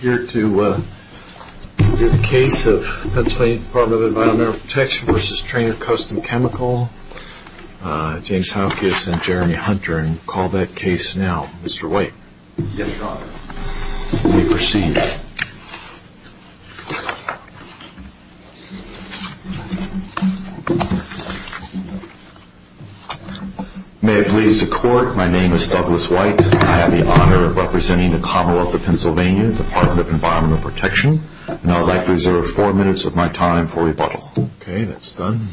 We're here to hear the case of Pennsylvania Department of Environmental Protection v. Trainer Custom Chemical. James Haukis and Jeremy Hunter. And call that case now. Mr. White. Yes, Your Honor. You may proceed. May it please the Court, my name is Douglas White. I have the honor of representing the Department of Environmental Protection. And I would like to reserve four minutes of my time for rebuttal. Okay, that's done.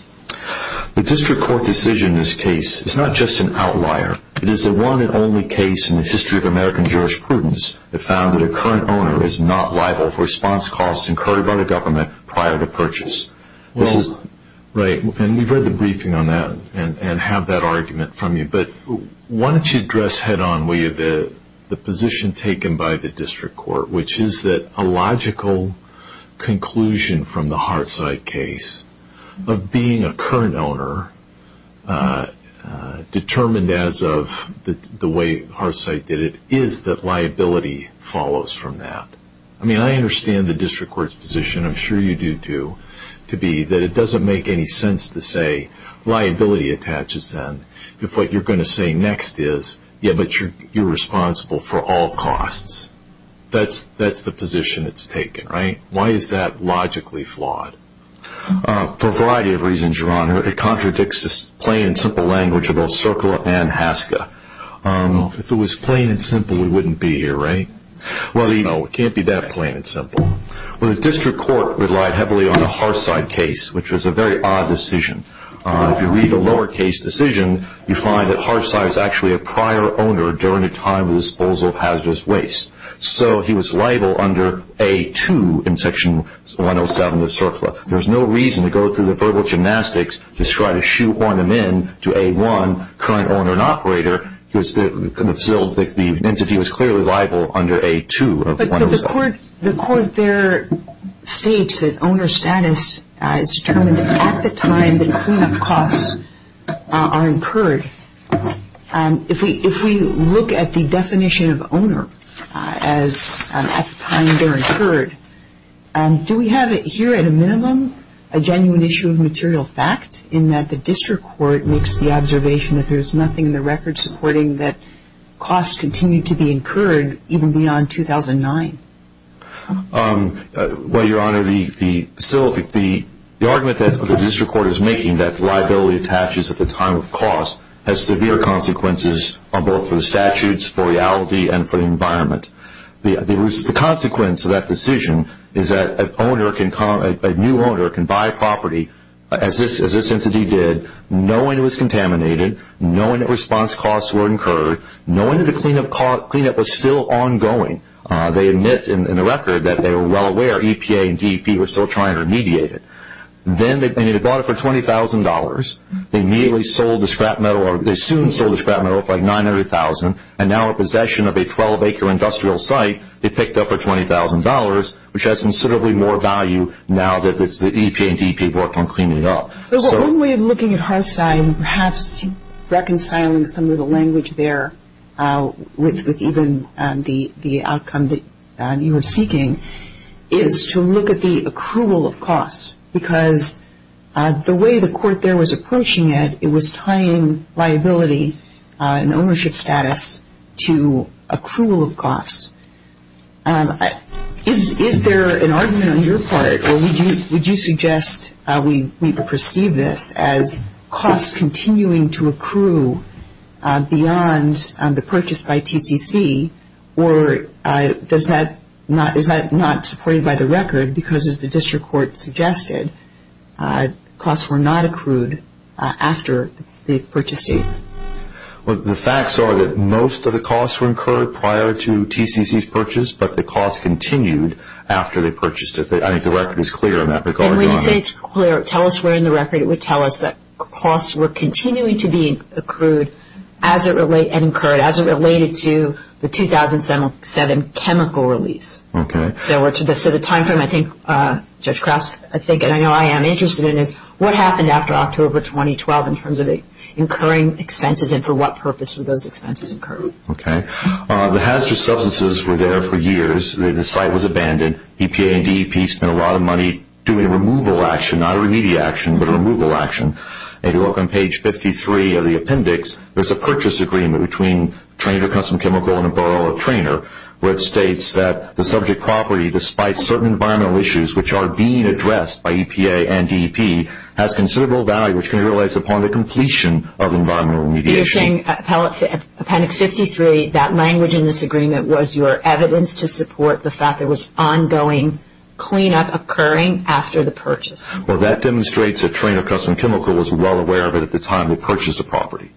The District Court decision in this case is not just an outlier. It is the one and only case in the history of American jurisprudence that found that a current owner is not liable for response costs incurred by the government prior to purchase. Well, right. And we've read the briefing on that and have that argument from you. But why don't you address head on, will you, the position taken by the District Court, which is that a logical conclusion from the Hartside case of being a current owner determined as of the way Hartside did it is that liability follows from that. I mean, I understand the District Court's position, I'm sure you do too, to be that it doesn't make any sense to say liability attaches then if what you're going to say next is, yeah, but you're responsible for all costs. That's the position that's taken, right? Why is that logically flawed? For a variety of reasons, Your Honor. It contradicts the plain and simple language of both Circula and Haska. If it was plain and simple, we wouldn't be here, right? No, it can't be that plain and simple. Well, the District Court relied heavily on the Hartside case, which was a very odd decision. If you read the lower case decision, you find that Hartside is actually a prior owner during a time of disposal of hazardous waste. So he was liable under A2 in Section 107 of Circula. There's no reason to go through the verbal gymnastics to try to shoehorn him in to A1, current owner and operator, because the entity was clearly liable under A2 of 107. But the court there states that owner status is determined at the time that cleanup costs are incurred. If we look at the definition of owner as at the time they're incurred, do we have here at a minimum a genuine issue of material fact in that the District Court makes the observation that there's nothing in the record supporting that costs continue to be incurred even beyond 2009? Well, Your Honor, the argument that the District Court is making that liability attaches at the time of cost has severe consequences on both the statutes, for reality, and for the environment. The consequence of that decision is that a new owner can buy property, as this entity did, knowing it was contaminated, knowing that response costs were incurred, knowing that the cleanup was still ongoing. They admit in the record that they were well aware EPA and DEP were still trying to mediate it. Then they bought it for $20,000. They immediately sold the scrap metal, or they soon sold the scrap metal for like $900,000, and now in possession of a 12-acre industrial site, they picked up for $20,000, which has considerably more value now that EPA and DEP have worked on cleaning it up. But one way of looking at Hartz I and perhaps reconciling some of the language there with even the outcome that you were seeking is to look at the accrual of costs, because the way the Court there was approaching it, it was tying liability and ownership status to accrual of costs. Is there an argument on your part, or would you suggest we perceive this as costs continuing to accrue beyond the purchase by TCC, or is that not supported by the record because, as the District Court suggested, costs were not accrued after the purchase date? Well, the facts are that most of the costs were incurred prior to TCC's purchase, but the costs continued after they purchased it. I think the record is clear on that, but going on. And when you say it's clear, tell us where in the record it would tell us that costs were continuing to be accrued and incurred as it related to the 2007 chemical release. Okay. So the timeframe, I think, Judge Krause, I think, and I know I am interested in is what happened after October 2012 in terms of incurring expenses, and for what purpose were those expenses incurred? Okay. The hazardous substances were there for years. The site was abandoned. EPA and not a remedy action, but a removal action. If you look on page 53 of the appendix, there is a purchase agreement between Traynor Custom Chemical and the Borough of Traynor, which states that the subject property, despite certain environmental issues which are being addressed by EPA and DEP, has considerable value, which can be realized upon the completion of environmental remediation. You are saying, appendix 53, that language in this agreement was your evidence to support the fact there was ongoing cleanup occurring after the purchase? Well, that demonstrates that Traynor Custom Chemical was well aware of it at the time it purchased the property.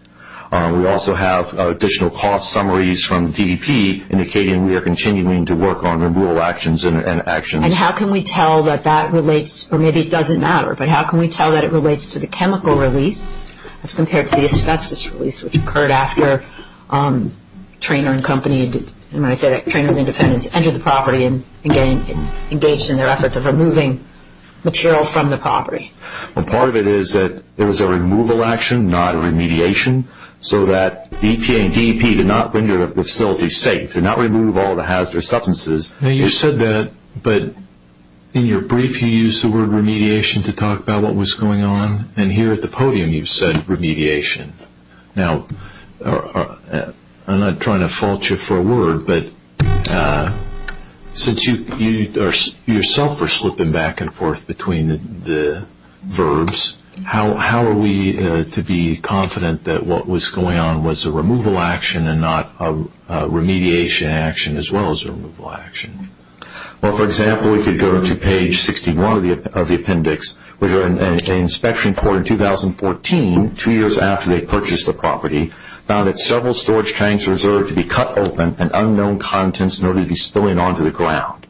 We also have additional cost summaries from DEP indicating we are continuing to work on removal actions and actions. And how can we tell that that relates, or maybe it doesn't matter, but how can we tell that it relates to the chemical release as compared to the asbestos release which occurred after Traynor and company, and when I say that, Traynor and the independents entered the property and engaged in their efforts of removing material from the property? Part of it is that it was a removal action, not a remediation, so that EPA and DEP did not render the facility safe, did not remove all the hazardous substances. Now you said that, but in your brief you used the word remediation to talk about what was going on, and here at the podium you said remediation. Now, I'm not trying to fault you for a word, but since you yourself are slipping back and forth between the verbs, how are we to be confident that what was going on was a removal action and not a remediation action as well as a removal action? Well, for example, we could go to page 61 of the appendix, which an inspection court in 2014, two years after they purchased the property, found that several storage tanks were reserved to be cut open and unknown contents noted to be spilling onto the ground.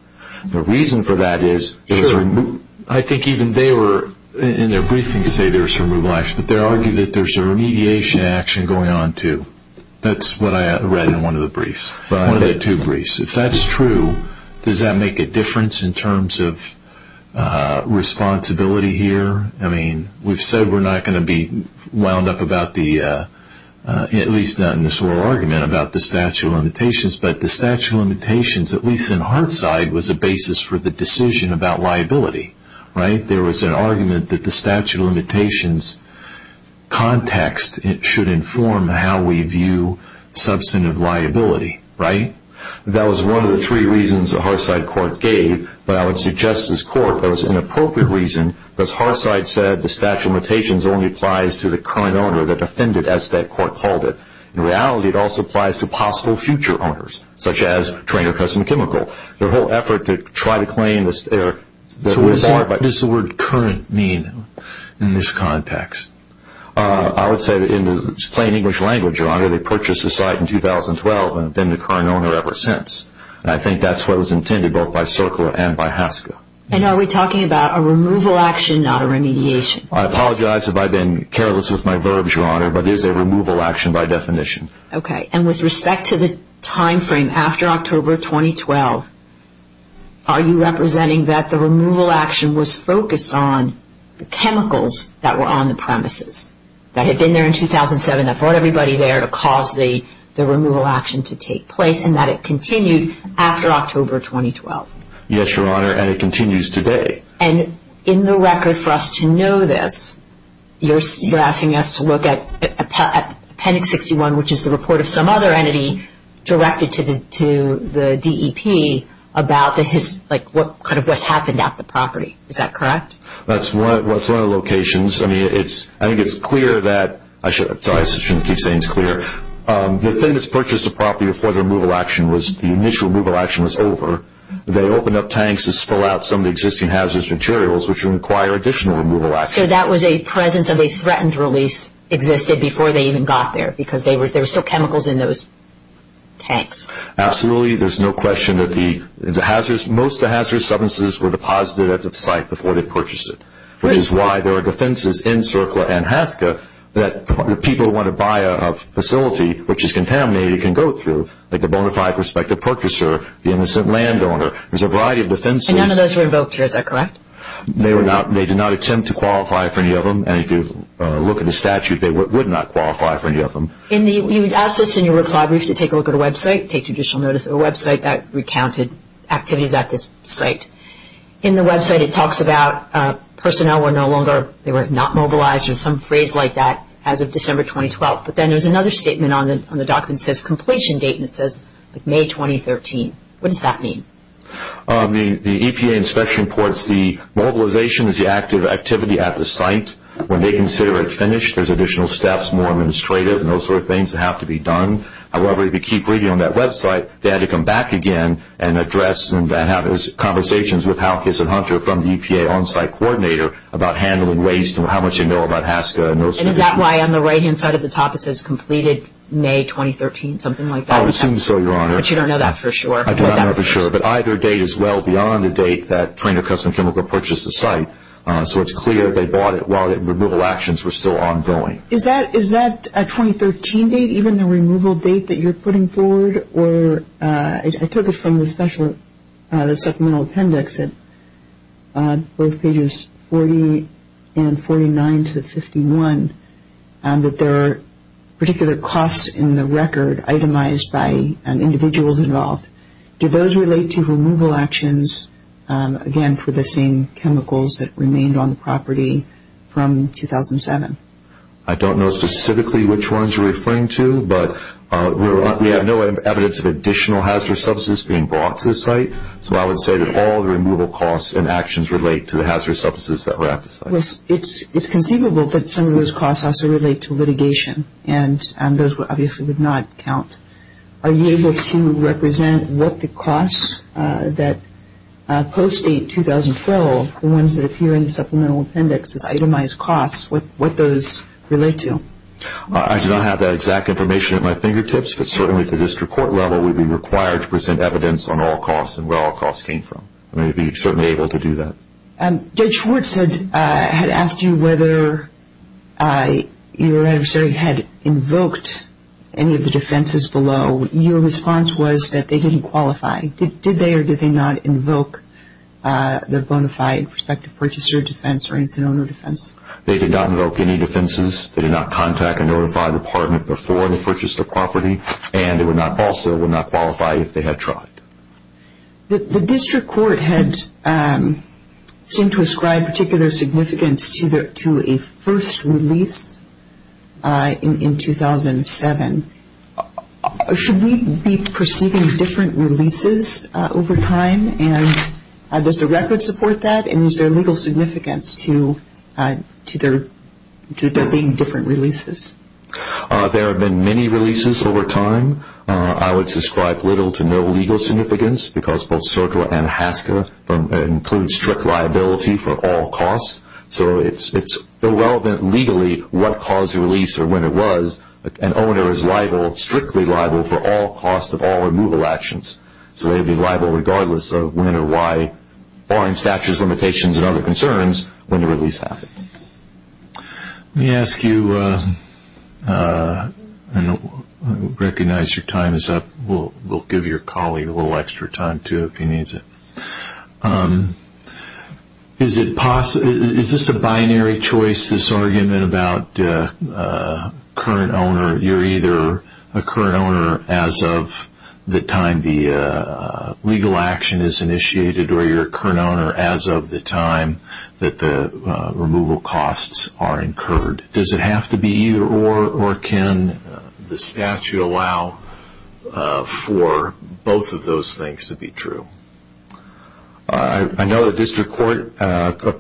The reason for that is, I think even they were, in their briefings say there was a removal action, but they argue that there's a remediation action going on too. That's what I read in one of the briefs, one of the two briefs. If that's true, does that make a difference in terms of responsibility here? I mean, we've said we're not going to be wound up about the, at least not in this oral argument, about the statute of limitations, but the statute of limitations, at least in Hart's side, was a basis for the decision about liability. There was an argument that the statute of limitations context should inform how we view substantive liability, right? That was one of the three reasons the Hart's side court gave, but I would suggest as court, that was an appropriate reason, because Hart's side said the statute of limitations only applies to the current owner, the defendant, as that court called it. In reality, it also applies to possible future owners, such as Trainer Custom Chemical. Their whole effort to try to claim this, they're barred by- So what does the word current mean in this context? I would say that in its plain English language, Your Honor, they purchased the site in 2012 and have been the current owner ever since. I think that's what was intended, both by Circa and by Haska. And are we talking about a removal action, not a remediation? I apologize if I've been careless with my verbs, Your Honor, but it is a removal action by definition. Okay. And with respect to the time frame after October 2012, are you representing that the that had been there in 2007, that brought everybody there to cause the removal action to take place, and that it continued after October 2012? Yes, Your Honor, and it continues today. And in the record for us to know this, you're asking us to look at Appendix 61, which is the report of some other entity directed to the DEP about what's happened at the property. Is that correct? That's one of the locations. I mean, I think it's clear that, sorry, I shouldn't keep saying it's clear. The thing that's purchased the property before the removal action was, the initial removal action was over. They opened up tanks to spill out some of the existing hazardous materials, which would require additional removal action. So that was a presence of a threatened release existed before they even got there, because there were still chemicals in those tanks. Absolutely. There's no question that most of the hazardous substances were deposited at the site before they purchased it, which is why there are defenses in Cercla and Haska that people who want to buy a facility which is contaminated can go through, like the bonafide prospective purchaser, the innocent landowner. There's a variety of defenses. And none of those were invoked here, is that correct? They did not attempt to qualify for any of them, and if you look at the statute, they would not qualify for any of them. You asked us in your reply brief to take a look at a website, take additional notice of a website that recounted activities at this site. In the website, it talks about personnel were no longer, they were not mobilized, or some phrase like that, as of December 2012. But then there's another statement on the document that says completion date, and it says May 2013. What does that mean? The EPA inspection reports, the mobilization is the active activity at the site. When they consider it finished, there's additional steps, more administrative, and those sort of things that have to be done. However, if you keep reading on that website, they had to come back again and address and have conversations with Hal Kiss and Hunter from the EPA on-site coordinator about handling waste and how much they know about Haska and those sort of things. And is that why on the right-hand side of the top it says completed May 2013, something like that? I would assume so, Your Honor. But you don't know that for sure? I do not know for sure, but either date is well beyond the date that Trainor Custom Chemical purchased the site. So it's clear they bought it while the removal actions were still ongoing. Is that a 2013 date, even the removal date that you're putting forward? I took it from the supplemental appendix at both pages 40 and 49 to 51, that there are particular costs in the record itemized by individuals involved. Do those relate to removal actions, again, for the same chemicals that remained on the property from 2007? I don't know specifically which ones you're referring to, but we have no evidence of additional hazardous substances being brought to the site. So I would say that all the removal costs and actions relate to the hazardous substances that were at the site. It's conceivable that some of those costs also relate to litigation, and those obviously would not count. Are you able to represent what the costs that post-date 2012, the ones that appear in the supplemental appendix as itemized costs, what those relate to? I do not have that exact information at my fingertips, but certainly at the district court level we would be required to present evidence on all costs and where all costs came from. We would be certainly able to do that. Judge Schwartz had asked you whether your adversary had invoked any of the defenses below. Your response was that they didn't qualify. Did they or did they not invoke the purchaser defense or incident owner defense? They did not invoke any defenses. They did not contact and notify the department before they purchased the property, and they also would not qualify if they had tried. The district court had seemed to ascribe particular significance to a first release in 2007. Should we be perceiving different releases over time, and does the record support that, and is there legal significance to there being different releases? There have been many releases over time. I would ascribe little to no legal significance because both SIRCLA and HASCA include strict liability for all costs, so it's irrelevant legally what caused the release or when it was. An owner is strictly liable for all costs of all removal actions, so they would be liable regardless of when or why, barring statutes, limitations, and other concerns when the release happened. Let me ask you, and I recognize your time is up, we'll give your colleague a little extra time too if he needs it. Is this a binary choice, this argument about current owner, you're either a current owner as of the time the legal action is initiated or you're a current owner as of the time that the removal costs are incurred? Does it have to be either or, or can the statute allow for both of those things to be true? I know the district court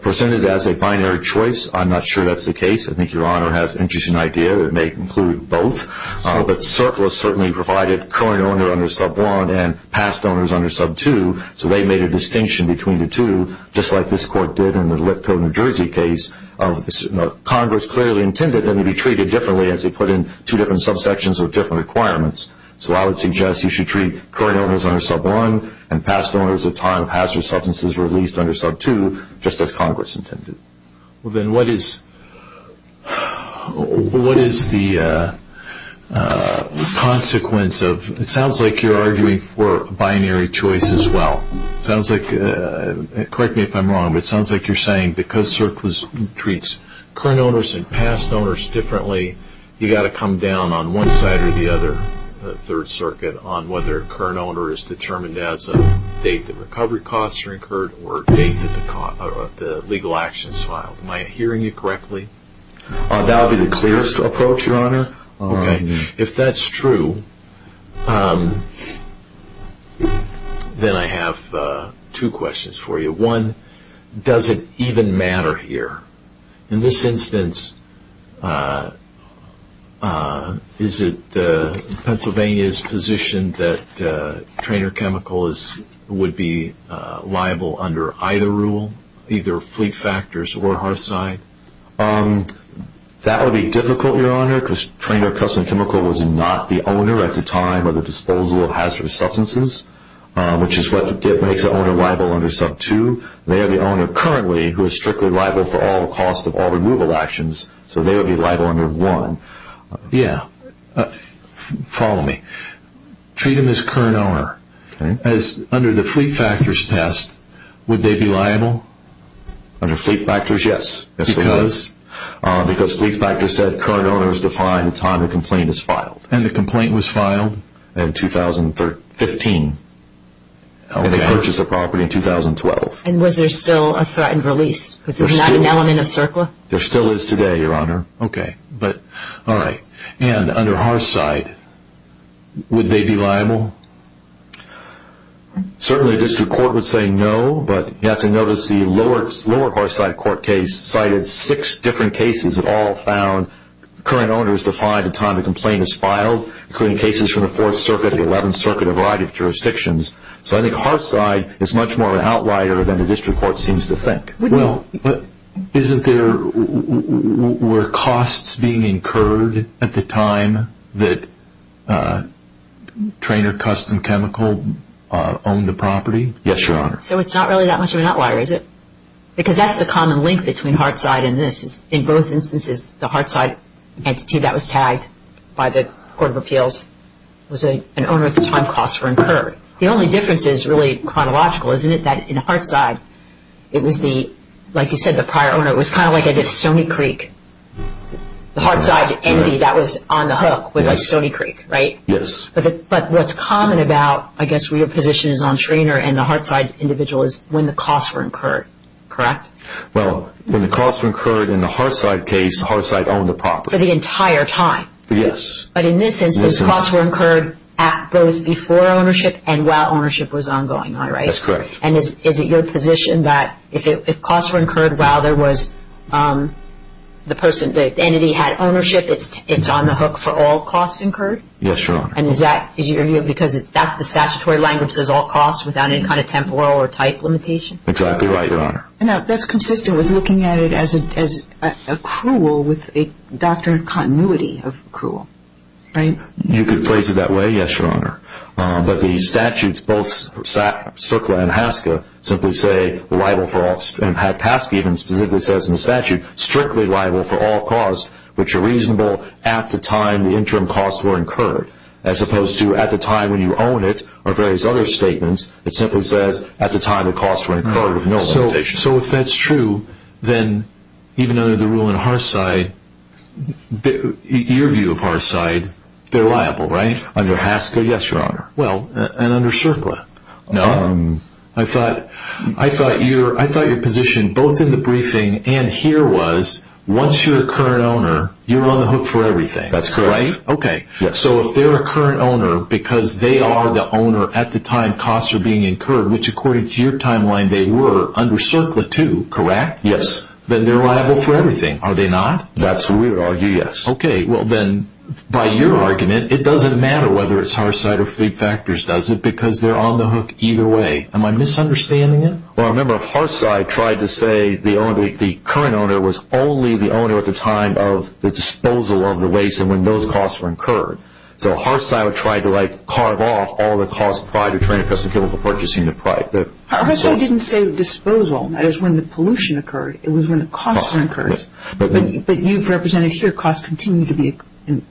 presented it as a binary choice. I'm not sure that's the case. I think your honor has an interesting idea that it may include both, but SIRCLA certainly provided current owner under sub 1 and past owners under sub 2, so they made a distinction between the two, just like this court did in the Lipko, New Jersey case of Congress clearly intended that they be treated differently as they put in two different subsections with different requirements. So I would suggest you should treat current owners under sub 1 and past owners at the time of hazardous substances released under sub 2 just as Congress intended. Well then what is, what is the consequence of, it sounds like you're arguing for binary choice as well. It sounds like, correct me if I'm wrong, but it sounds like you're saying because SIRCLA treats current owners and past owners differently, you've got to come down on one side or the other, Third Circuit, on whether a current owner is determined as of date that recovery costs are incurred or date that the legal action is filed. Am I hearing you correctly? That would be the clearest approach, your honor. Okay, if that's true, then I have two questions for you. One, does it even matter here? In this instance, is it Pennsylvania's position that trainer chemicals would be liable under either rule, either fleet factors or hard side? That would be difficult, your honor, because trainer custom chemical was not the owner at the time of the disposal of hazardous substances, which is what makes the owner liable under sub 2. They are the owner currently who is strictly liable for all costs of all removal actions, so they would be liable under 1. Yeah, follow me. Treat them as current owner. As under the fleet factors test, would they be liable? Under fleet factors, yes. Because? Because fleet factors said current owner is defined at the time the complaint is filed. And the complaint was filed in 2015, and they purchased the property in 2012. And was there still a threatened release? This is not an element of CERCLA? There still is today, your honor. Okay, but all right. And under hard side, would they be liable? Certainly a district court would say no, but you have to notice the lower hard side court case cited six different cases that all found current owner is defined at the time the complaint is filed, including cases from the 4th Circuit, the 11th Circuit, a variety of jurisdictions. So I think hard side is much more of an outlier than the district court seems to think. Well, isn't there, were costs being incurred at the time that Traynor Custom Chemical owned the property? Yes, your honor. So it's not really that much of an outlier, is it? Because that's the common link between hard side and this. In both instances, the hard side entity that was tagged by the Court of Appeals was an owner at the time costs were incurred. The only difference is really chronological, isn't it? That in hard side, it was the, like you said, the prior owner, it was kind of like a Stony Creek. The hard side entity that was on the hook was like Stony Creek, right? Yes. But what's common about, I guess, where your position is on Traynor and the hard side individual is when the costs were incurred, correct? Well, when the costs were incurred in the hard side case, hard side owned the property. For the entire time? Yes. But in this instance, costs were incurred at both before ownership and while ownership was ongoing, right? That's correct. And is it your position that if costs were incurred while there was the person, the entity had ownership, it's on the hook for all costs incurred? Yes, your honor. And is that, is your view, because that's the statutory language, there's all costs without any kind of temporal or type limitation? Exactly right, your honor. Now, that's consistent with looking at it as accrual with a doctrine of continuity of accrual, right? You could phrase it that way, yes, your honor. But the statutes, both Sukla and Haske, simply say liable for all, and Haske even specifically says in the statute, strictly liable for all costs which are reasonable at the time the interim costs were incurred. As opposed to at the time when you own it, or various other statements, it simply says So if that's true, then even under the rule in Harside, your view of Harside, they're liable, right? Under Haske, yes, your honor. Well, and under Sukla? No. I thought your position, both in the briefing and here was, once you're a current owner, you're on the hook for everything. That's correct. Right? Okay. So if they're a current owner because they are the owner at the time costs are being incurred, which according to your timeline, they were under Sukla too, correct? Yes. Then they're liable for everything, are they not? That's what we would argue, yes. Okay. Well, then by your argument, it doesn't matter whether it's Harside or Fleet Factors, does it? Because they're on the hook either way. Am I misunderstanding it? Well, I remember Harside tried to say the current owner was only the owner at the time of the disposal of the waste and when those costs were incurred. So Harside would try to like carve off all the cost prior to trying to custom kill before purchasing the product. Harside didn't say disposal, that is when the pollution occurred, it was when the costs were incurred. But you've represented here, costs continue to be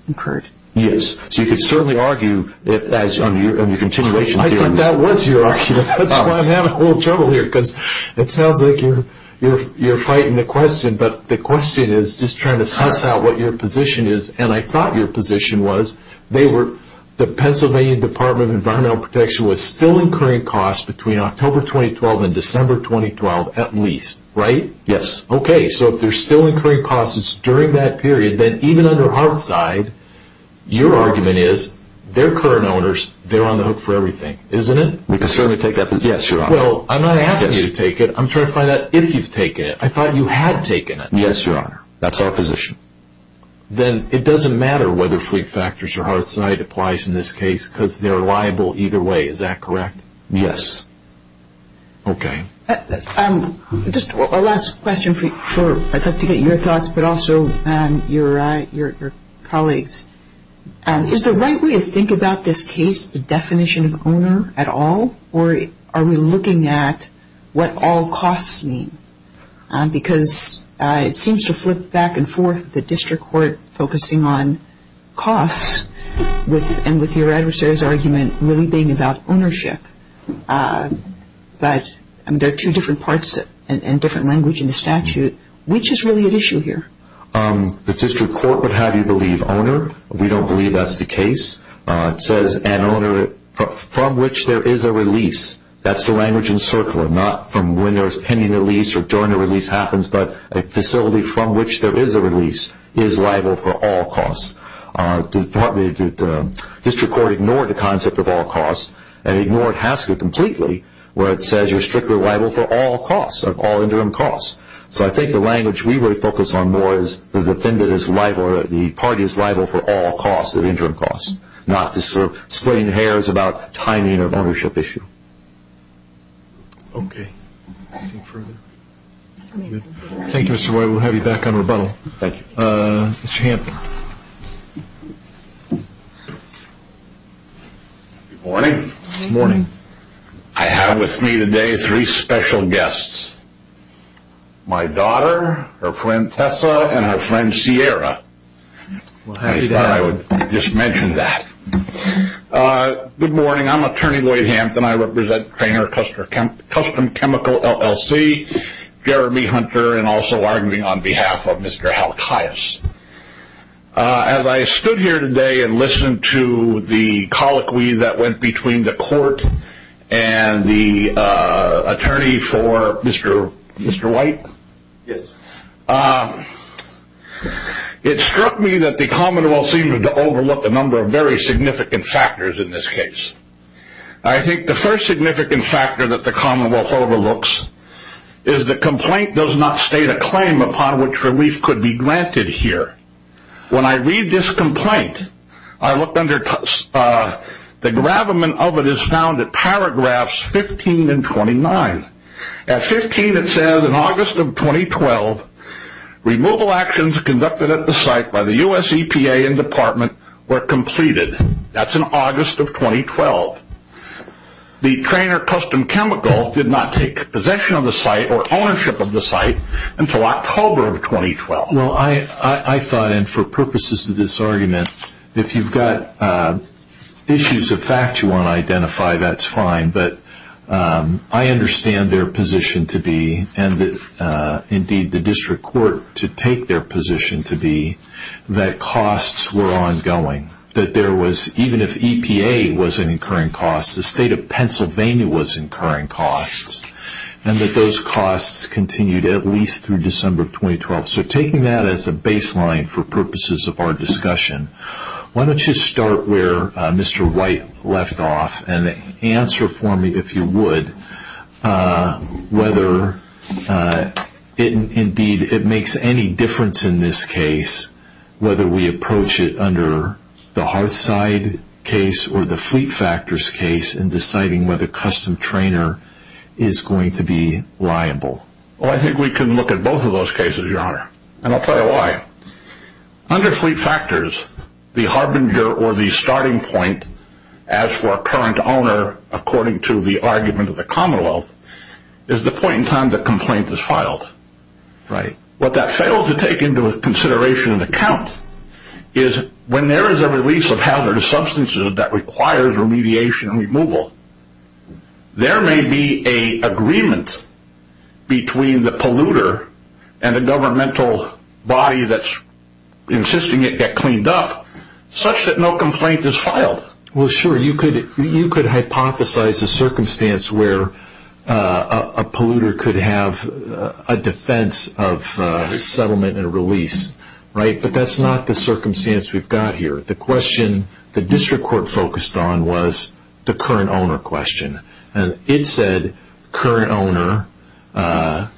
incurred. Yes. So you could certainly argue if that's on your continuation. I think that was your argument, that's why I'm having a little trouble here because it sounds like you're fighting the question, but the question is just trying to suss out what your position is. And I thought your position was, the Pennsylvania Department of Environmental Protection was still incurring costs between October 2012 and December 2012 at least, right? Yes. Okay, so if they're still incurring costs during that period, then even under Harside, your argument is, they're current owners, they're on the hook for everything, isn't it? You can certainly take that position. Yes, your honor. Well, I'm not asking you to take it, I'm trying to find out if you've taken it. I thought you had taken it. Yes, your honor. That's our position. Then it doesn't matter whether fleet factors or Harside applies in this case because they're liable either way, is that correct? Yes. Okay. Just a last question to get your thoughts, but also your colleagues. Is the right way to think about this case the definition of owner at all or are we looking at what all costs mean? Because it seems to flip back and forth, the district court focusing on costs and with your adversary's argument really being about ownership, but there are two different parts and different language in the statute. Which is really at issue here? The district court would have you believe owner. We don't believe that's the case. It says an owner from which there is a release, that's the language in circular, not from when there's pending a lease or during a release happens, but a facility from which there is a release is liable for all costs. District court ignored the concept of all costs and ignored Hasker completely where it says you're strictly liable for all costs, of all interim costs. So I think the language we would focus on more is the defendant is liable or the party is liable for all costs and interim costs, not splitting hairs about timing or ownership issue. Okay. Anything further? Thank you, Mr. White. We'll have you back on rebuttal. Thank you. Mr. Hampton. Good morning. Good morning. I have with me today three special guests. My daughter, her friend Tessa, and her friend Sierra. I thought I would just mention that. Good morning. I'm attorney Lloyd Hampton. I represent Custom Chemical LLC, Jeremy Hunter, and also arguing on behalf of Mr. Halkias. As I stood here today and listened to the colloquy that went between the court and the attorney for Mr. White, it struck me that the commonwealth seemed to overlook a number of very significant factors in this case. I think the first significant factor that the commonwealth overlooks is the complaint does not state a claim upon which relief could be granted here. When I read this complaint, the gravamen of it is found in paragraphs 15 and 29. At 15 it says, in August of 2012, removal actions conducted at the site by the U.S. EPA and Department were completed. That's in August of 2012. The trainer, Custom Chemical, did not take possession of the site or ownership of the site until October of 2012. I thought, and for purposes of this argument, if you've got issues of fact you want to identify, that's fine, but I understand their position to be, and indeed the district court to take their position to be, that costs were ongoing. Even if EPA was incurring costs, the state of Pennsylvania was incurring costs, and that those costs continued at least through December of 2012. So taking that as a baseline for purposes of our discussion, why don't you start where Mr. White left off and answer for me, if you would, whether indeed it makes any difference in this case whether we approach it under the Hearthside case or the Fleet Factors case in deciding whether Custom Trainer is going to be liable. Well, I think we can look at both of those cases, Your Honor, and I'll tell you why. Under Fleet Factors, the harbinger or the starting point as for a current owner, according to the argument of the Commonwealth, is the point in time the complaint is filed. Right. What that fails to take into consideration and account is when there is a release of between the polluter and the governmental body that's insisting it get cleaned up, such that no complaint is filed. Well, sure. You could hypothesize a circumstance where a polluter could have a defense of settlement and release, right? But that's not the circumstance we've got here. The question the district court focused on was the current owner question. It said current owner,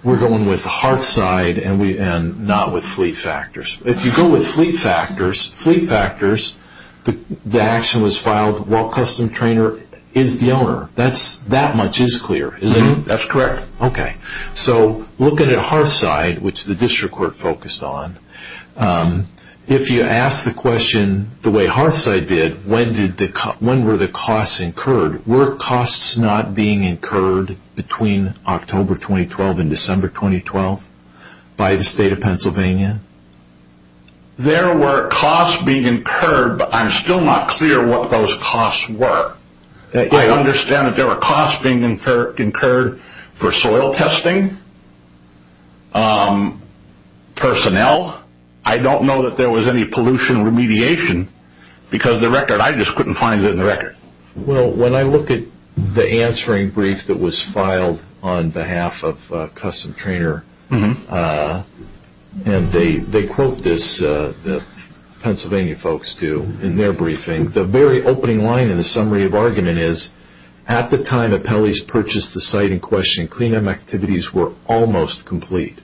we're going with Hearthside and not with Fleet Factors. If you go with Fleet Factors, the action was filed while Custom Trainer is the owner. That much is clear, isn't it? That's correct. Okay. So, looking at Hearthside, which the district court focused on, if you ask the question the way Hearthside did, when were the costs incurred? Were costs not being incurred between October 2012 and December 2012 by the state of Pennsylvania? There were costs being incurred, but I'm still not clear what those costs were. I understand that there were costs being incurred for soil testing, personnel. I don't know that there was any pollution remediation because of the record. I just couldn't find it in the record. Well, when I look at the answering brief that was filed on behalf of Custom Trainer, and they quote this, the Pennsylvania folks do in their briefing, the very opening line in the summary of argument is, at the time that Pelley's purchased the site in question, cleanup activities were almost complete.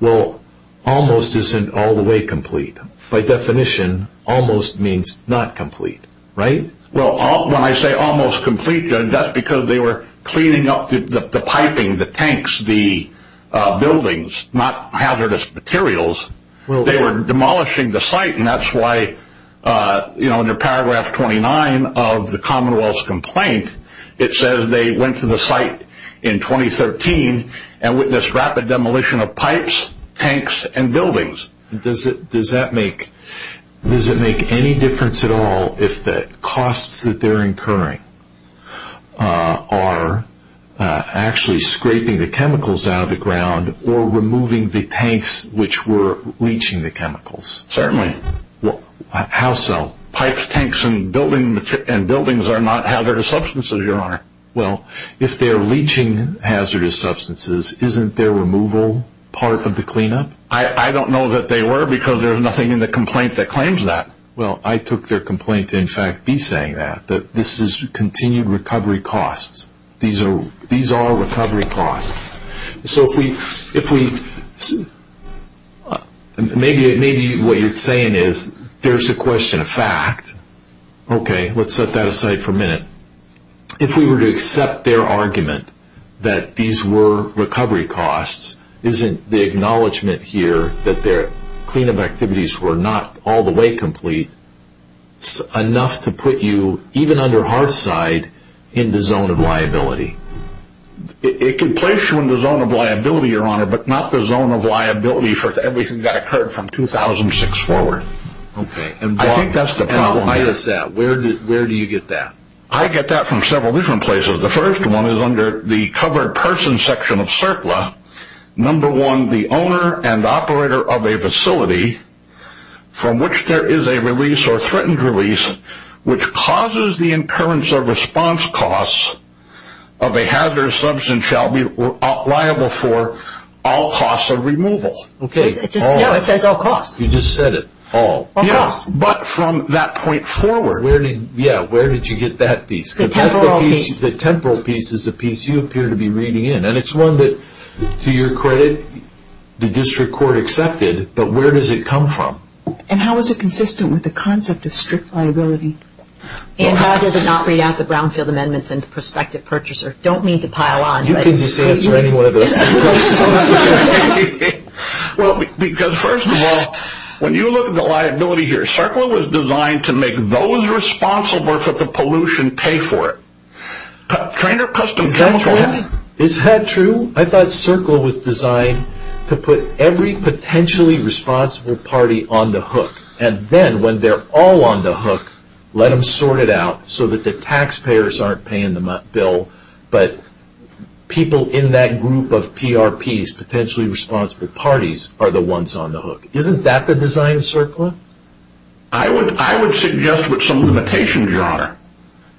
Well, almost isn't all the way complete. By definition, almost means not complete, right? Well, when I say almost complete, that's because they were cleaning up the piping, the tanks, the buildings, not hazardous materials. They were demolishing the site, and that's why in paragraph 29 of the Commonwealth's complaint, it says they went to the site in 2013 and witnessed rapid demolition of pipes, tanks, and buildings. Does it make any difference at all if the costs that they're incurring are actually scraping the chemicals out of the ground or removing the tanks which were leaching the chemicals? Certainly. How so? Pipes, tanks, and buildings are not hazardous substances, Your Honor. Well, if they're leaching hazardous substances, isn't their removal part of the cleanup? I don't know that they were because there's nothing in the complaint that claims that. Well, I took their complaint to in fact be saying that, that this is continued recovery costs. These are all recovery costs. So maybe what you're saying is there's a question of fact. Okay, let's set that aside for a minute. If we were to accept their argument that these were recovery costs, isn't the acknowledgment here that their cleanup activities were not all the way complete enough to put you, even under hard side, in the zone of liability? It could place you in the zone of liability, Your Honor, but not the zone of liability for everything that occurred from 2006 forward. Okay. I think that's the problem. Where do you get that? I get that from several different places. The first one is under the covered person section of CERCLA. Number one, the owner and operator of a facility from which there is a release or threatened release which causes the occurrence of response costs of a hazardous substance shall be liable for all costs of removal. Okay. No, it says all costs. You just said it, all. All costs. But from that point forward. Yeah, where did you get that piece? The temporal piece. The temporal piece is the piece you appear to be reading in, and it's one that, to your credit, the district court accepted, but where does it come from? And how is it consistent with the concept of strict liability? And how does it not read out the brownfield amendments in the prospective purchaser? I don't mean to pile on, but... You can just answer any one of those questions. Well, because, first of all, when you look at the liability here, CERCLA was designed to make those responsible for the pollution pay for it. Trainer Custom Chemical... Is that true? I thought CERCLA was designed to put every potentially responsible party on the hook, and then when they're all on the hook, let them sort it out so that the taxpayers aren't paying the bill, but people in that group of PRPs, potentially responsible parties, are the ones on the hook. Isn't that the design of CERCLA?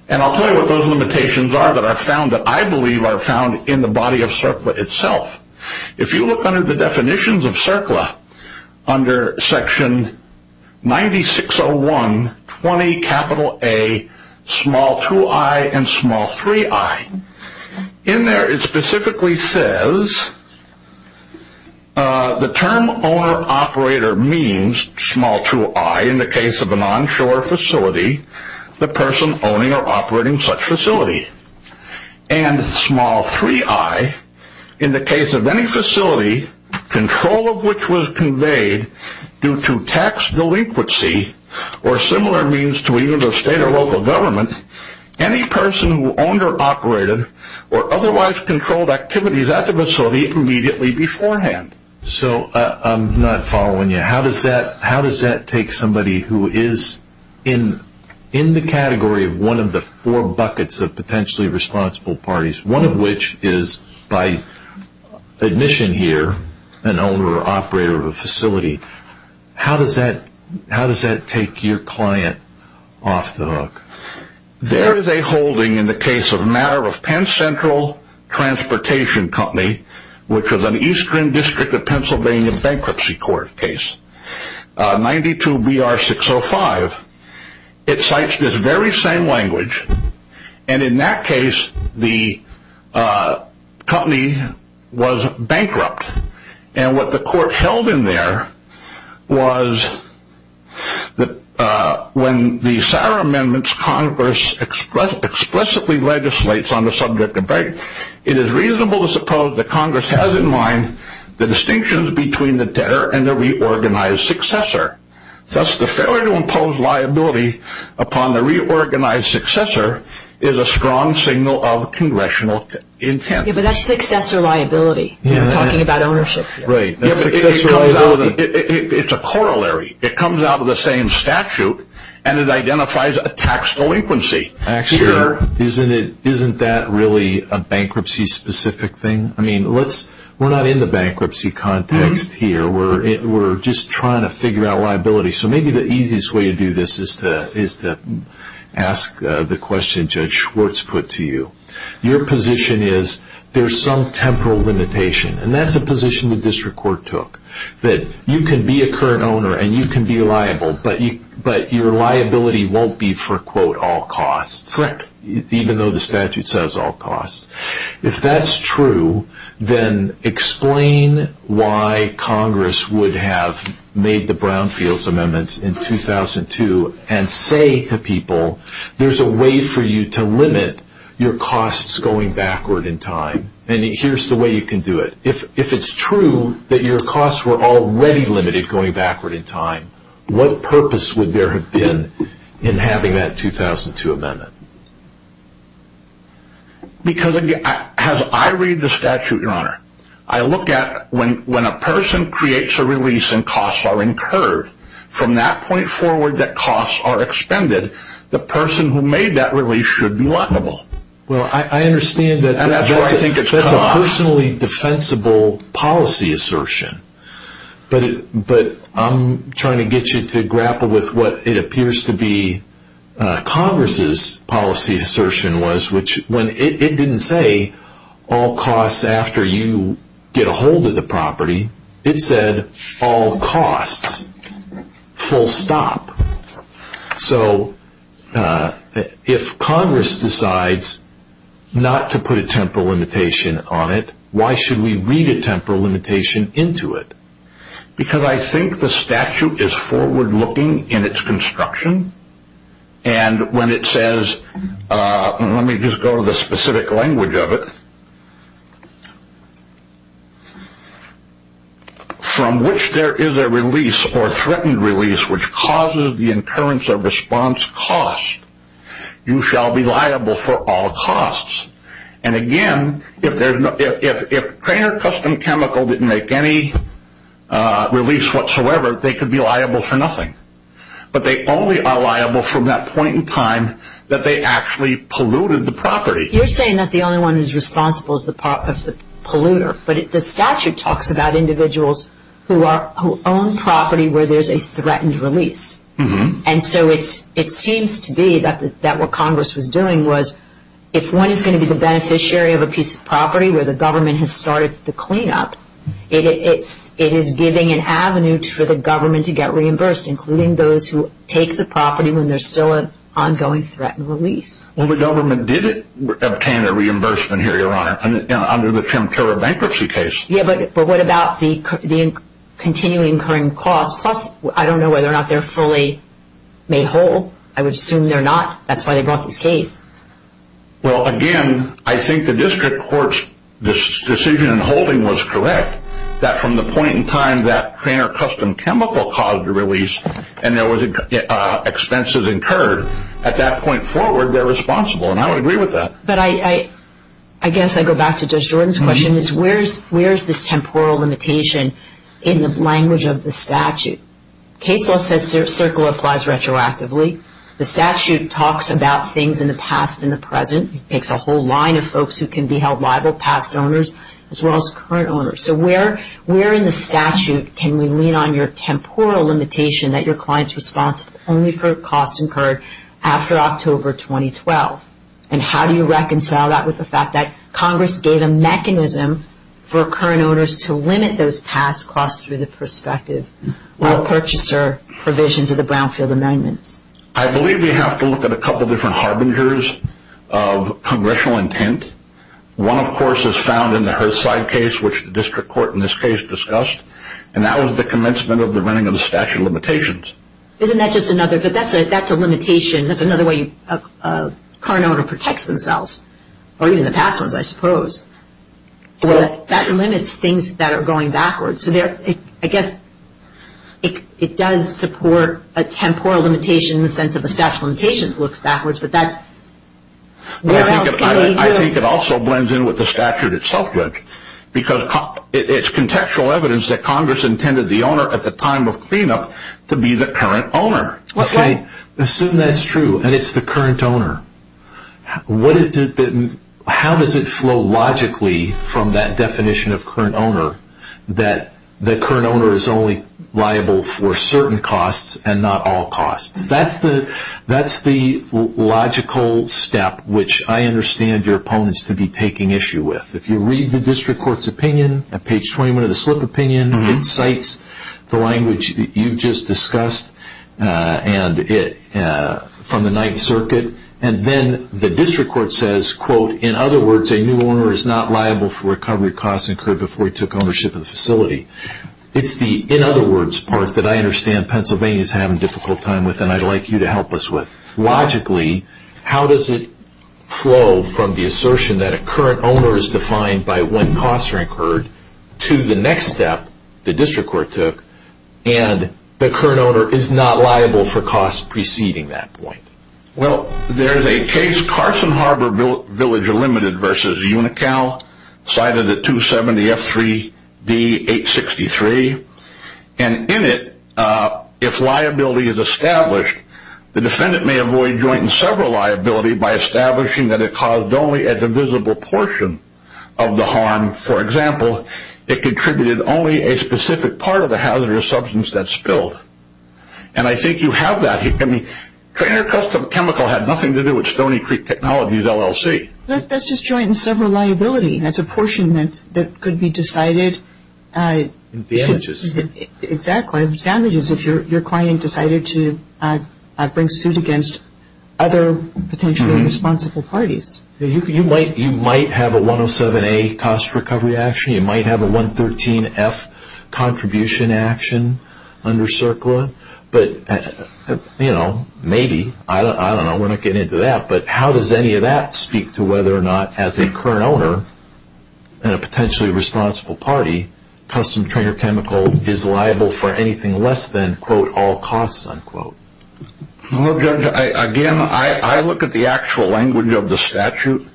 And I'll tell you what those limitations are that I believe are found in the body of CERCLA itself. If you look under the definitions of CERCLA, under section 9601.20A2i and 3i, in there it specifically says, the term owner-operator means, small 2i in the case of an onshore facility, the person owning or operating such facility. And small 3i, in the case of any facility, control of which was conveyed due to tax delinquency or similar means to either the state or local government, any person who owned or operated or otherwise controlled activities at the facility immediately beforehand. So I'm not following you. How does that take somebody who is in the category of one of the four buckets of potentially responsible parties, one of which is by admission here, an owner-operator of a facility, how does that take your client off the hook? There is a holding in the case of matter of Penn Central Transportation Company, which was an eastern district of Pennsylvania bankruptcy court case, 92BR605. It cites this very same language, and in that case the company was bankrupt. And what the court held in there was that when the Sauer amendments, Congress explicitly legislates on the subject of bankruptcy, it is reasonable to suppose that Congress has in mind the distinctions between the debtor and the reorganized successor. Thus the failure to impose liability upon the reorganized successor is a strong signal of congressional intent. But that's successor liability. It's a corollary. It comes out of the same statute, and it identifies a tax delinquency. Isn't that really a bankruptcy-specific thing? We're not in the bankruptcy context here. We're just trying to figure out liability. So maybe the easiest way to do this is to ask the question Judge Schwartz put to you. Your position is there's some temporal limitation, and that's a position the district court took. You can be a current owner and you can be liable, but your liability won't be for all costs, even though the statute says all costs. If that's true, then explain why Congress would have made the Brownfields amendments in 2002 and say to people there's a way for you to limit your costs going backward in time, and here's the way you can do it. If it's true that your costs were already limited going backward in time, what purpose would there have been in having that 2002 amendment? Because as I read the statute, Your Honor, I look at when a person creates a release and costs are incurred, from that point forward that costs are expended, the person who made that release should be liable. Well, I understand that that's a personally defensible policy assertion, but I'm trying to get you to grapple with what it appears to be Congress's policy assertion was, which it didn't say all costs after you get a hold of the property. It said all costs, full stop. So if Congress decides not to put a temporal limitation on it, why should we read a temporal limitation into it? Because I think the statute is forward looking in its construction, and when it says, let me just go to the specific language of it, from which there is a release or threatened release which causes the incurrence of response cost, you shall be liable for all costs. And again, if Craner Custom Chemical didn't make any release whatsoever, they could be liable for nothing. But they only are liable from that point in time that they actually polluted the property. You're saying that the only one who's responsible is the polluter, but the statute talks about individuals who own property where there's a threatened release. And so it seems to be that what Congress was doing was, if one is going to be the beneficiary of a piece of property where the government has started the cleanup, it is giving an avenue for the government to get reimbursed, including those who take the property when there's still an ongoing threatened release. Well, the government did obtain a reimbursement here, Your Honor, under the Tim Turner bankruptcy case. Yeah, but what about the continuing incurring costs? Plus, I don't know whether or not they're fully made whole. I would assume they're not. That's why they brought this case. Well, again, I think the district court's decision in holding was correct, that from the point in time that Craner Custom Chemical caused the release and there were expenses incurred, at that point forward, they're responsible. And I would agree with that. But I guess I go back to Judge Jordan's question, is where's this temporal limitation in the language of the statute? Case law says circle applies retroactively. The statute talks about things in the past and the present. It takes a whole line of folks who can be held liable, past owners as well as current owners. So where in the statute can we lean on your temporal limitation that your client's responsible only for costs incurred after October 2012? And how do you reconcile that with the fact that Congress gave a mechanism for current owners to limit those past costs through the prospective purchaser provisions of the Brownfield Amendments? I believe we have to look at a couple different harbingers of congressional intent. One, of course, is found in the Herthside case, which the district court in this case discussed, and that was the commencement of the running of the statute of limitations. Isn't that just another? But that's a limitation. That's another way a current owner protects themselves, or even the past ones, I suppose. So that limits things that are going backwards. So I guess it does support a temporal limitation in the sense of a statute limitation that looks backwards, but where else can we do it? I think it also blends in with the statute itself, Rich, because it's contextual evidence that Congress intended the owner at the time of cleanup to be the current owner. Okay. Assume that's true and it's the current owner. How does it flow logically from that definition of current owner that the current owner is only liable for certain costs and not all costs? That's the logical step which I understand your opponents to be taking issue with. If you read the district court's opinion at page 21 of the slip opinion, it cites the language that you just discussed from the Ninth Circuit, and then the district court says, quote, in other words, a new owner is not liable for recovery costs incurred before he took ownership of the facility. It's the in other words part that I understand Pennsylvania is having a difficult time with and I'd like you to help us with. Logically, how does it flow from the assertion that a current owner is defined by when costs are incurred to the next step, the district court took, and the current owner is not liable for costs preceding that point? Well, there's a case, Carson Harbor Village Unlimited versus Unical, cited at 270F3D863, and in it, if liability is established, the defendant may avoid joint and several liability by establishing that it caused only a divisible portion of the harm. For example, it contributed only a specific part of the hazardous substance that spilled, and I think you have that here. I mean, train or custom chemical had nothing to do with Stony Creek Technologies LLC. That's just joint and several liability. That's apportionment that could be decided. Damages. Exactly. Damages if your client decided to bring suit against other potentially responsible parties. You might have a 107A cost recovery action. You might have a 113F contribution action under CERCLA. But, you know, maybe. I don't know. We're not getting into that. But how does any of that speak to whether or not, as a current owner and a potentially responsible party, custom train or chemical is liable for anything less than, quote, all costs, unquote? Well, Judge, again, I look at the actual language of the statute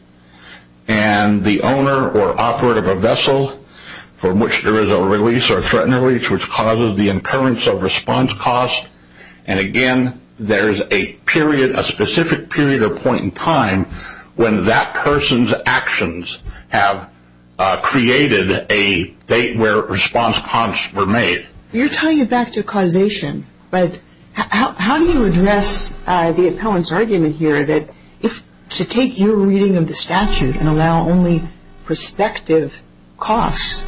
and the owner or operator of a vessel from which there is a release or threatened release, which causes the occurrence of response cost. And, again, there is a period, a specific period or point in time, when that person's actions have created a date where response costs were made. You're tying it back to causation. But how do you address the appellant's argument here that to take your reading of the statute and allow only prospective costs,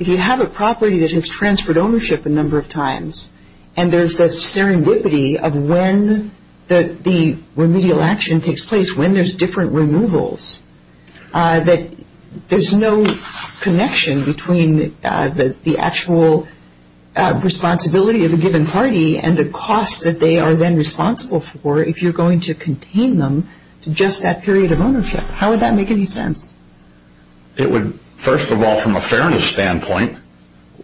if you have a property that has transferred ownership a number of times and there's the serendipity of when the remedial action takes place, when there's different removals, that there's no connection between the actual responsibility of a given party and the costs that they are then responsible for if you're going to contain them to just that period of ownership? How would that make any sense? It would, first of all, from a fairness standpoint,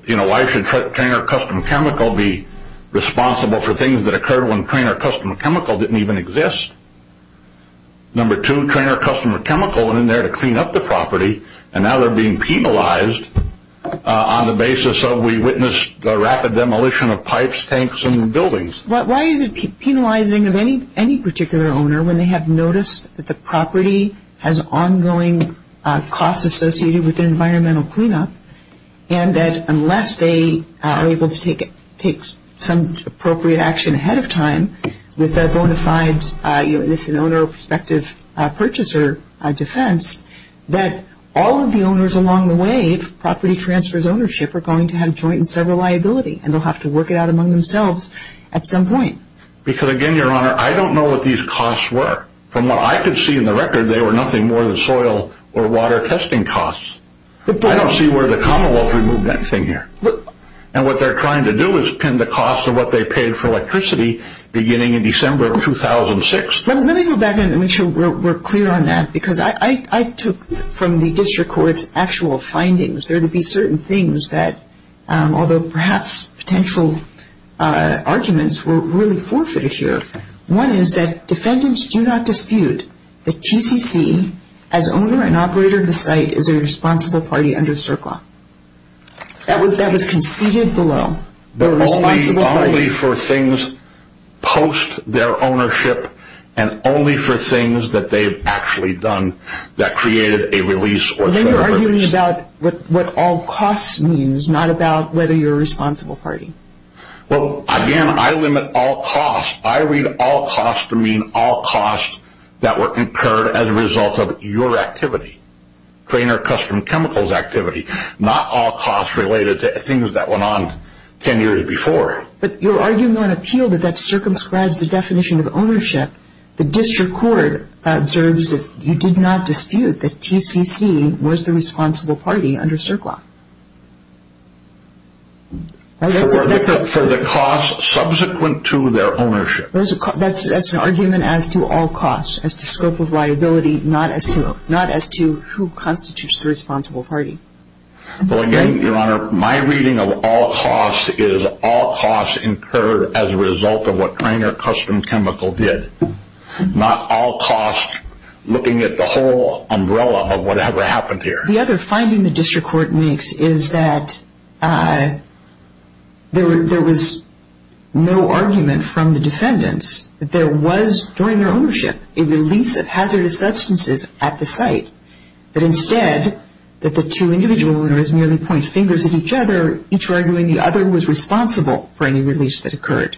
you know, why should train or custom chemical be responsible for things that occurred when train or custom chemical didn't even exist? Number two, train or custom chemical went in there to clean up the property, and now they're being penalized on the basis of we witnessed a rapid demolition of pipes, tanks, and buildings. Why is it penalizing of any particular owner when they have noticed that the property has ongoing costs associated with environmental cleanup, and that unless they are able to take some appropriate action ahead of time with bona fides, you know, this is an owner prospective purchaser defense, that all of the owners along the way, if property transfers ownership, are going to have joint and several liability, and they'll have to work it out among themselves at some point? Because, again, Your Honor, I don't know what these costs were. From what I could see in the record, they were nothing more than soil or water testing costs. I don't see where the commonwealth removed anything here. And what they're trying to do is pin the costs of what they paid for electricity beginning in December of 2006. Let me go back and make sure we're clear on that, because I took from the district court's actual findings. There would be certain things that, although perhaps potential arguments were really forfeited here. One is that defendants do not dispute that GCC, as owner and operator of the site, is a responsible party under CERC law. That was conceded below. Only for things post their ownership and only for things that they've actually done that created a release or fair release. They were arguing about what all costs means, not about whether you're a responsible party. Well, again, I limit all costs. I read all costs to mean all costs that were incurred as a result of your activity, trainer custom chemicals activity, not all costs related to things that went on 10 years before. But you're arguing on appeal that that circumscribes the definition of ownership. The district court observes that you did not dispute that GCC was the responsible party under CERC law. For the costs subsequent to their ownership. That's an argument as to all costs, as to scope of liability, not as to who constitutes the responsible party. Well, again, Your Honor, my reading of all costs is all costs incurred as a result of what trainer custom chemical did, not all costs looking at the whole umbrella of whatever happened here. The other finding the district court makes is that there was no argument from the defendants that there was, during their ownership, a release of hazardous substances at the site. That instead that the two individual owners merely point fingers at each other, each arguing the other was responsible for any release that occurred.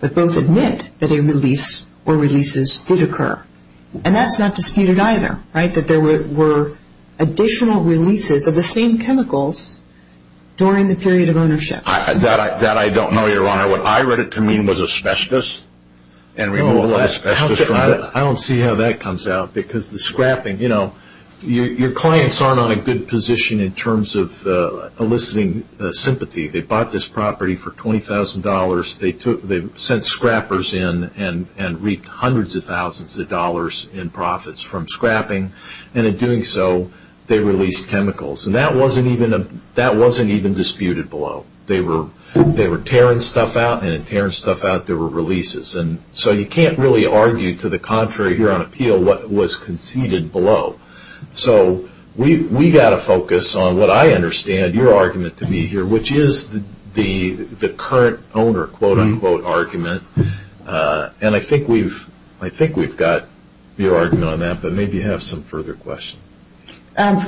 But both admit that a release or releases did occur. And that's not disputed either. That there were additional releases of the same chemicals during the period of ownership. That I don't know, Your Honor. What I read it to mean was asbestos and removal of asbestos. I don't see how that comes out. Because the scrapping, you know, your clients aren't on a good position in terms of eliciting sympathy. They bought this property for $20,000. They sent scrappers in and reaped hundreds of thousands of dollars in profits from scrapping. And in doing so, they released chemicals. And that wasn't even disputed below. They were tearing stuff out. And in tearing stuff out, there were releases. And so you can't really argue to the contrary here on appeal what was conceded below. So we've got to focus on what I understand your argument to be here, which is the current owner quote-unquote argument. And I think we've got your argument on that. But maybe you have some further questions.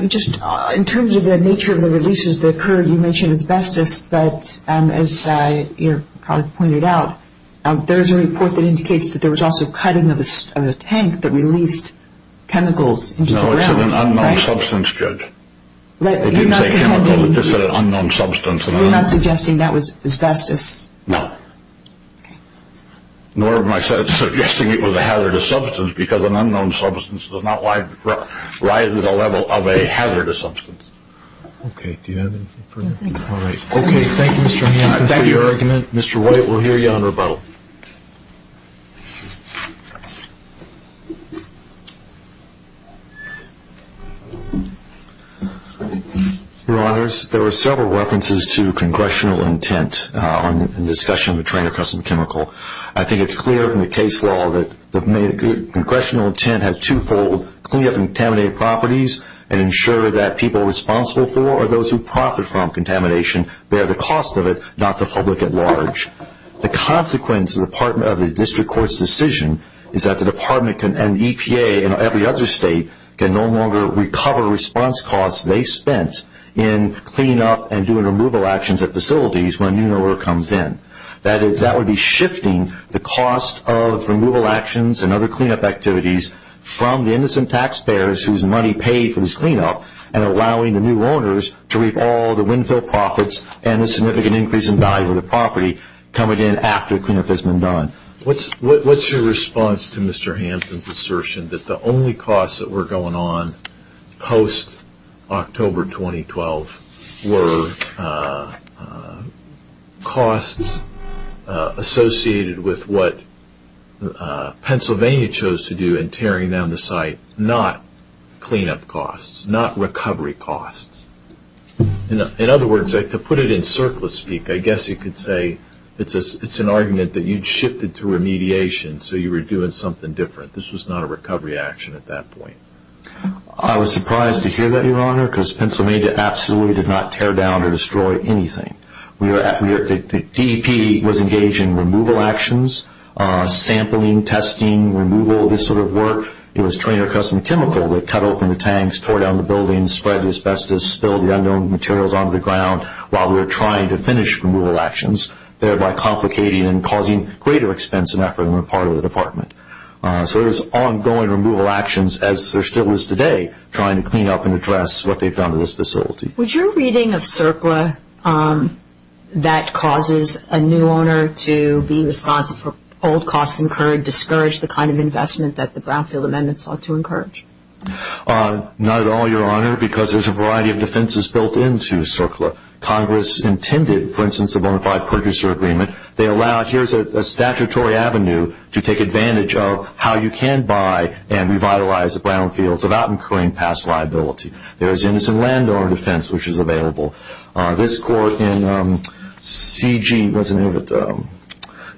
Just in terms of the nature of the releases that occurred, you mentioned asbestos. But as your colleague pointed out, there's a report that indicates that there was also cutting of a tank that released chemicals into the ground. No, it's an unknown substance, Judge. We didn't say chemical. We just said an unknown substance. You're not suggesting that was asbestos? No. Nor am I suggesting it was a hazardous substance because an unknown substance does not rise to the level of a hazardous substance. Okay, do you have anything further? No, thank you. All right. Okay, thank you, Mr. Hampton, for your argument. Mr. White, we'll hear you on rebuttal. Your Honors, there were several references to congressional intent in the discussion of the train of custom chemical. I think it's clear from the case law that congressional intent has two-fold. Clean up contaminated properties and ensure that people responsible for those who profit from contamination bear the cost of it, not the public at large. The consequence of the District Court's decision is that the Department and EPA and every other state can no longer recover response costs they spent in cleanup and doing removal actions at facilities when a new owner comes in. That would be shifting the cost of removal actions and other cleanup activities from the innocent taxpayers whose money paid for this cleanup and allowing the new owners to reap all the windfill profits and a significant increase in value of the property coming in after the cleanup has been done. What's your response to Mr. Hampton's assertion that the only costs that were going on post-October 2012 were costs associated with what Pennsylvania chose to do and tearing down the site, not cleanup costs, not recovery costs? In other words, to put it in surplus speak, I guess you could say it's an argument that you shifted to remediation so you were doing something different. This was not a recovery action at that point. I was surprised to hear that, Your Honor, because Pennsylvania absolutely did not tear down or destroy anything. The DEP was engaged in removal actions, sampling, testing, removal, this sort of work. It was trained or custom chemical. They cut open the tanks, tore down the buildings, spread the asbestos, spilled the unknown materials onto the ground while we were trying to finish removal actions, thereby complicating and causing greater expense and effort on the part of the department. So there was ongoing removal actions as there still is today trying to clean up and address what they've done to this facility. Was your reading of CERCLA that causes a new owner to be responsible for old costs and discourage the kind of investment that the Brownfield Amendments ought to encourage? Not at all, Your Honor, because there's a variety of defenses built into CERCLA. Congress intended, for instance, a bona fide purchaser agreement. They allowed, here's a statutory avenue to take advantage of how you can buy and revitalize the brownfields without incurring past liability. There is innocent landowner defense, which is available. This court in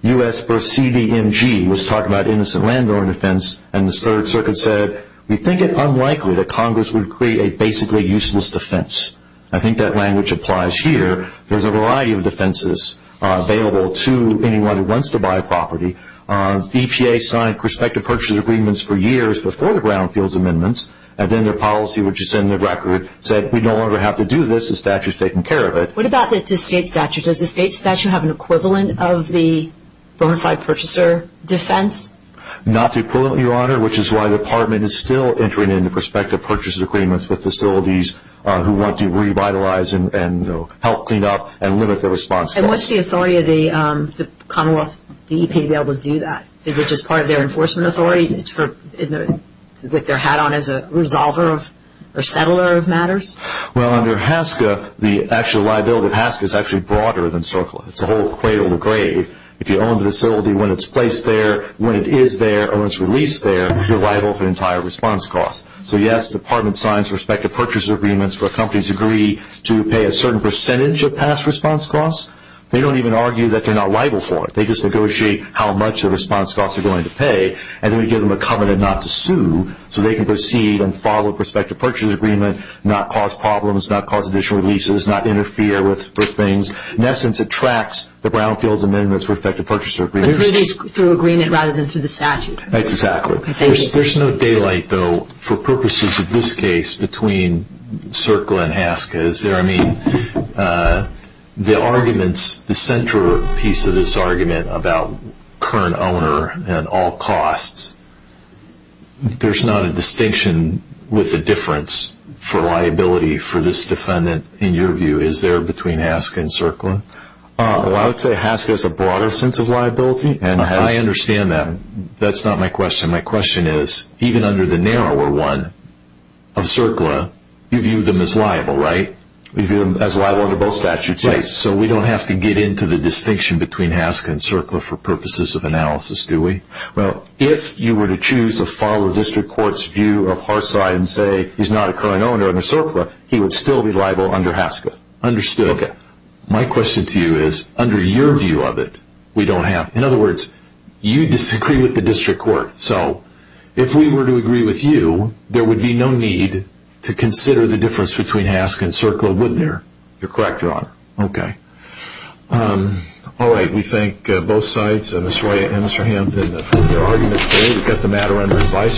US v. CDMG was talking about innocent landowner defense, and the Third Circuit said, we think it unlikely that Congress would create a basically useless defense. I think that language applies here. There's a variety of defenses available to anyone who wants to buy a property. EPA signed prospective purchaser agreements for years before the Brownfields Amendments, and then their policy, which is in the record, said we no longer have to do this. The statute has taken care of it. What about the state statute? Does the state statute have an equivalent of the bona fide purchaser defense? Not the equivalent, Your Honor, which is why the Department is still entering into prospective purchaser agreements with facilities who want to revitalize and help clean up and limit their response costs. And what's the authority of the Commonwealth, the EPA, to be able to do that? Is it just part of their enforcement authority with their hat on as a resolver or settler of matters? Well, under HASCA, the actual liability of HASCA is actually broader than CERCLA. It's a whole cradle to grave. If you own the facility when it's placed there, when it is there, or when it's released there, you're liable for entire response costs. So, yes, the Department signs prospective purchaser agreements where companies agree to pay a certain percentage of past response costs. They don't even argue that they're not liable for it. They just negotiate how much the response costs are going to pay, and then we give them a covenant not to sue, so they can proceed and follow a prospective purchaser agreement, not cause problems, not cause additional leases, not interfere with things. In essence, it tracks the Brownfields Amendment's prospective purchaser agreements. But through agreement rather than through the statute. Exactly. There's no daylight, though, for purposes of this case between CERCLA and HASCA. Is there, I mean, the arguments, the centerpiece of this argument about current owner and all costs, there's not a distinction with the difference for liability for this defendant, in your view, is there between HASCA and CERCLA? I would say HASCA has a broader sense of liability. I understand that. That's not my question. My question is, even under the narrower one of CERCLA, you view them as liable, right? We view them as liable under both statutes. Right. So we don't have to get into the distinction between HASCA and CERCLA for purposes of analysis, do we? Well, if you were to choose to follow the district court's view of Harside and say he's not a current owner under CERCLA, he would still be liable under HASCA. Understood. Okay. My question to you is, under your view of it, we don't have, in other words, you disagree with the district court. So if we were to agree with you, there would be no need to consider the difference between HASCA and CERCLA, would there? You're correct, Your Honor. Okay. All right. We thank both sides, Ms. Roya and Mr. Hampton, for their arguments today. We've got the matter under advice.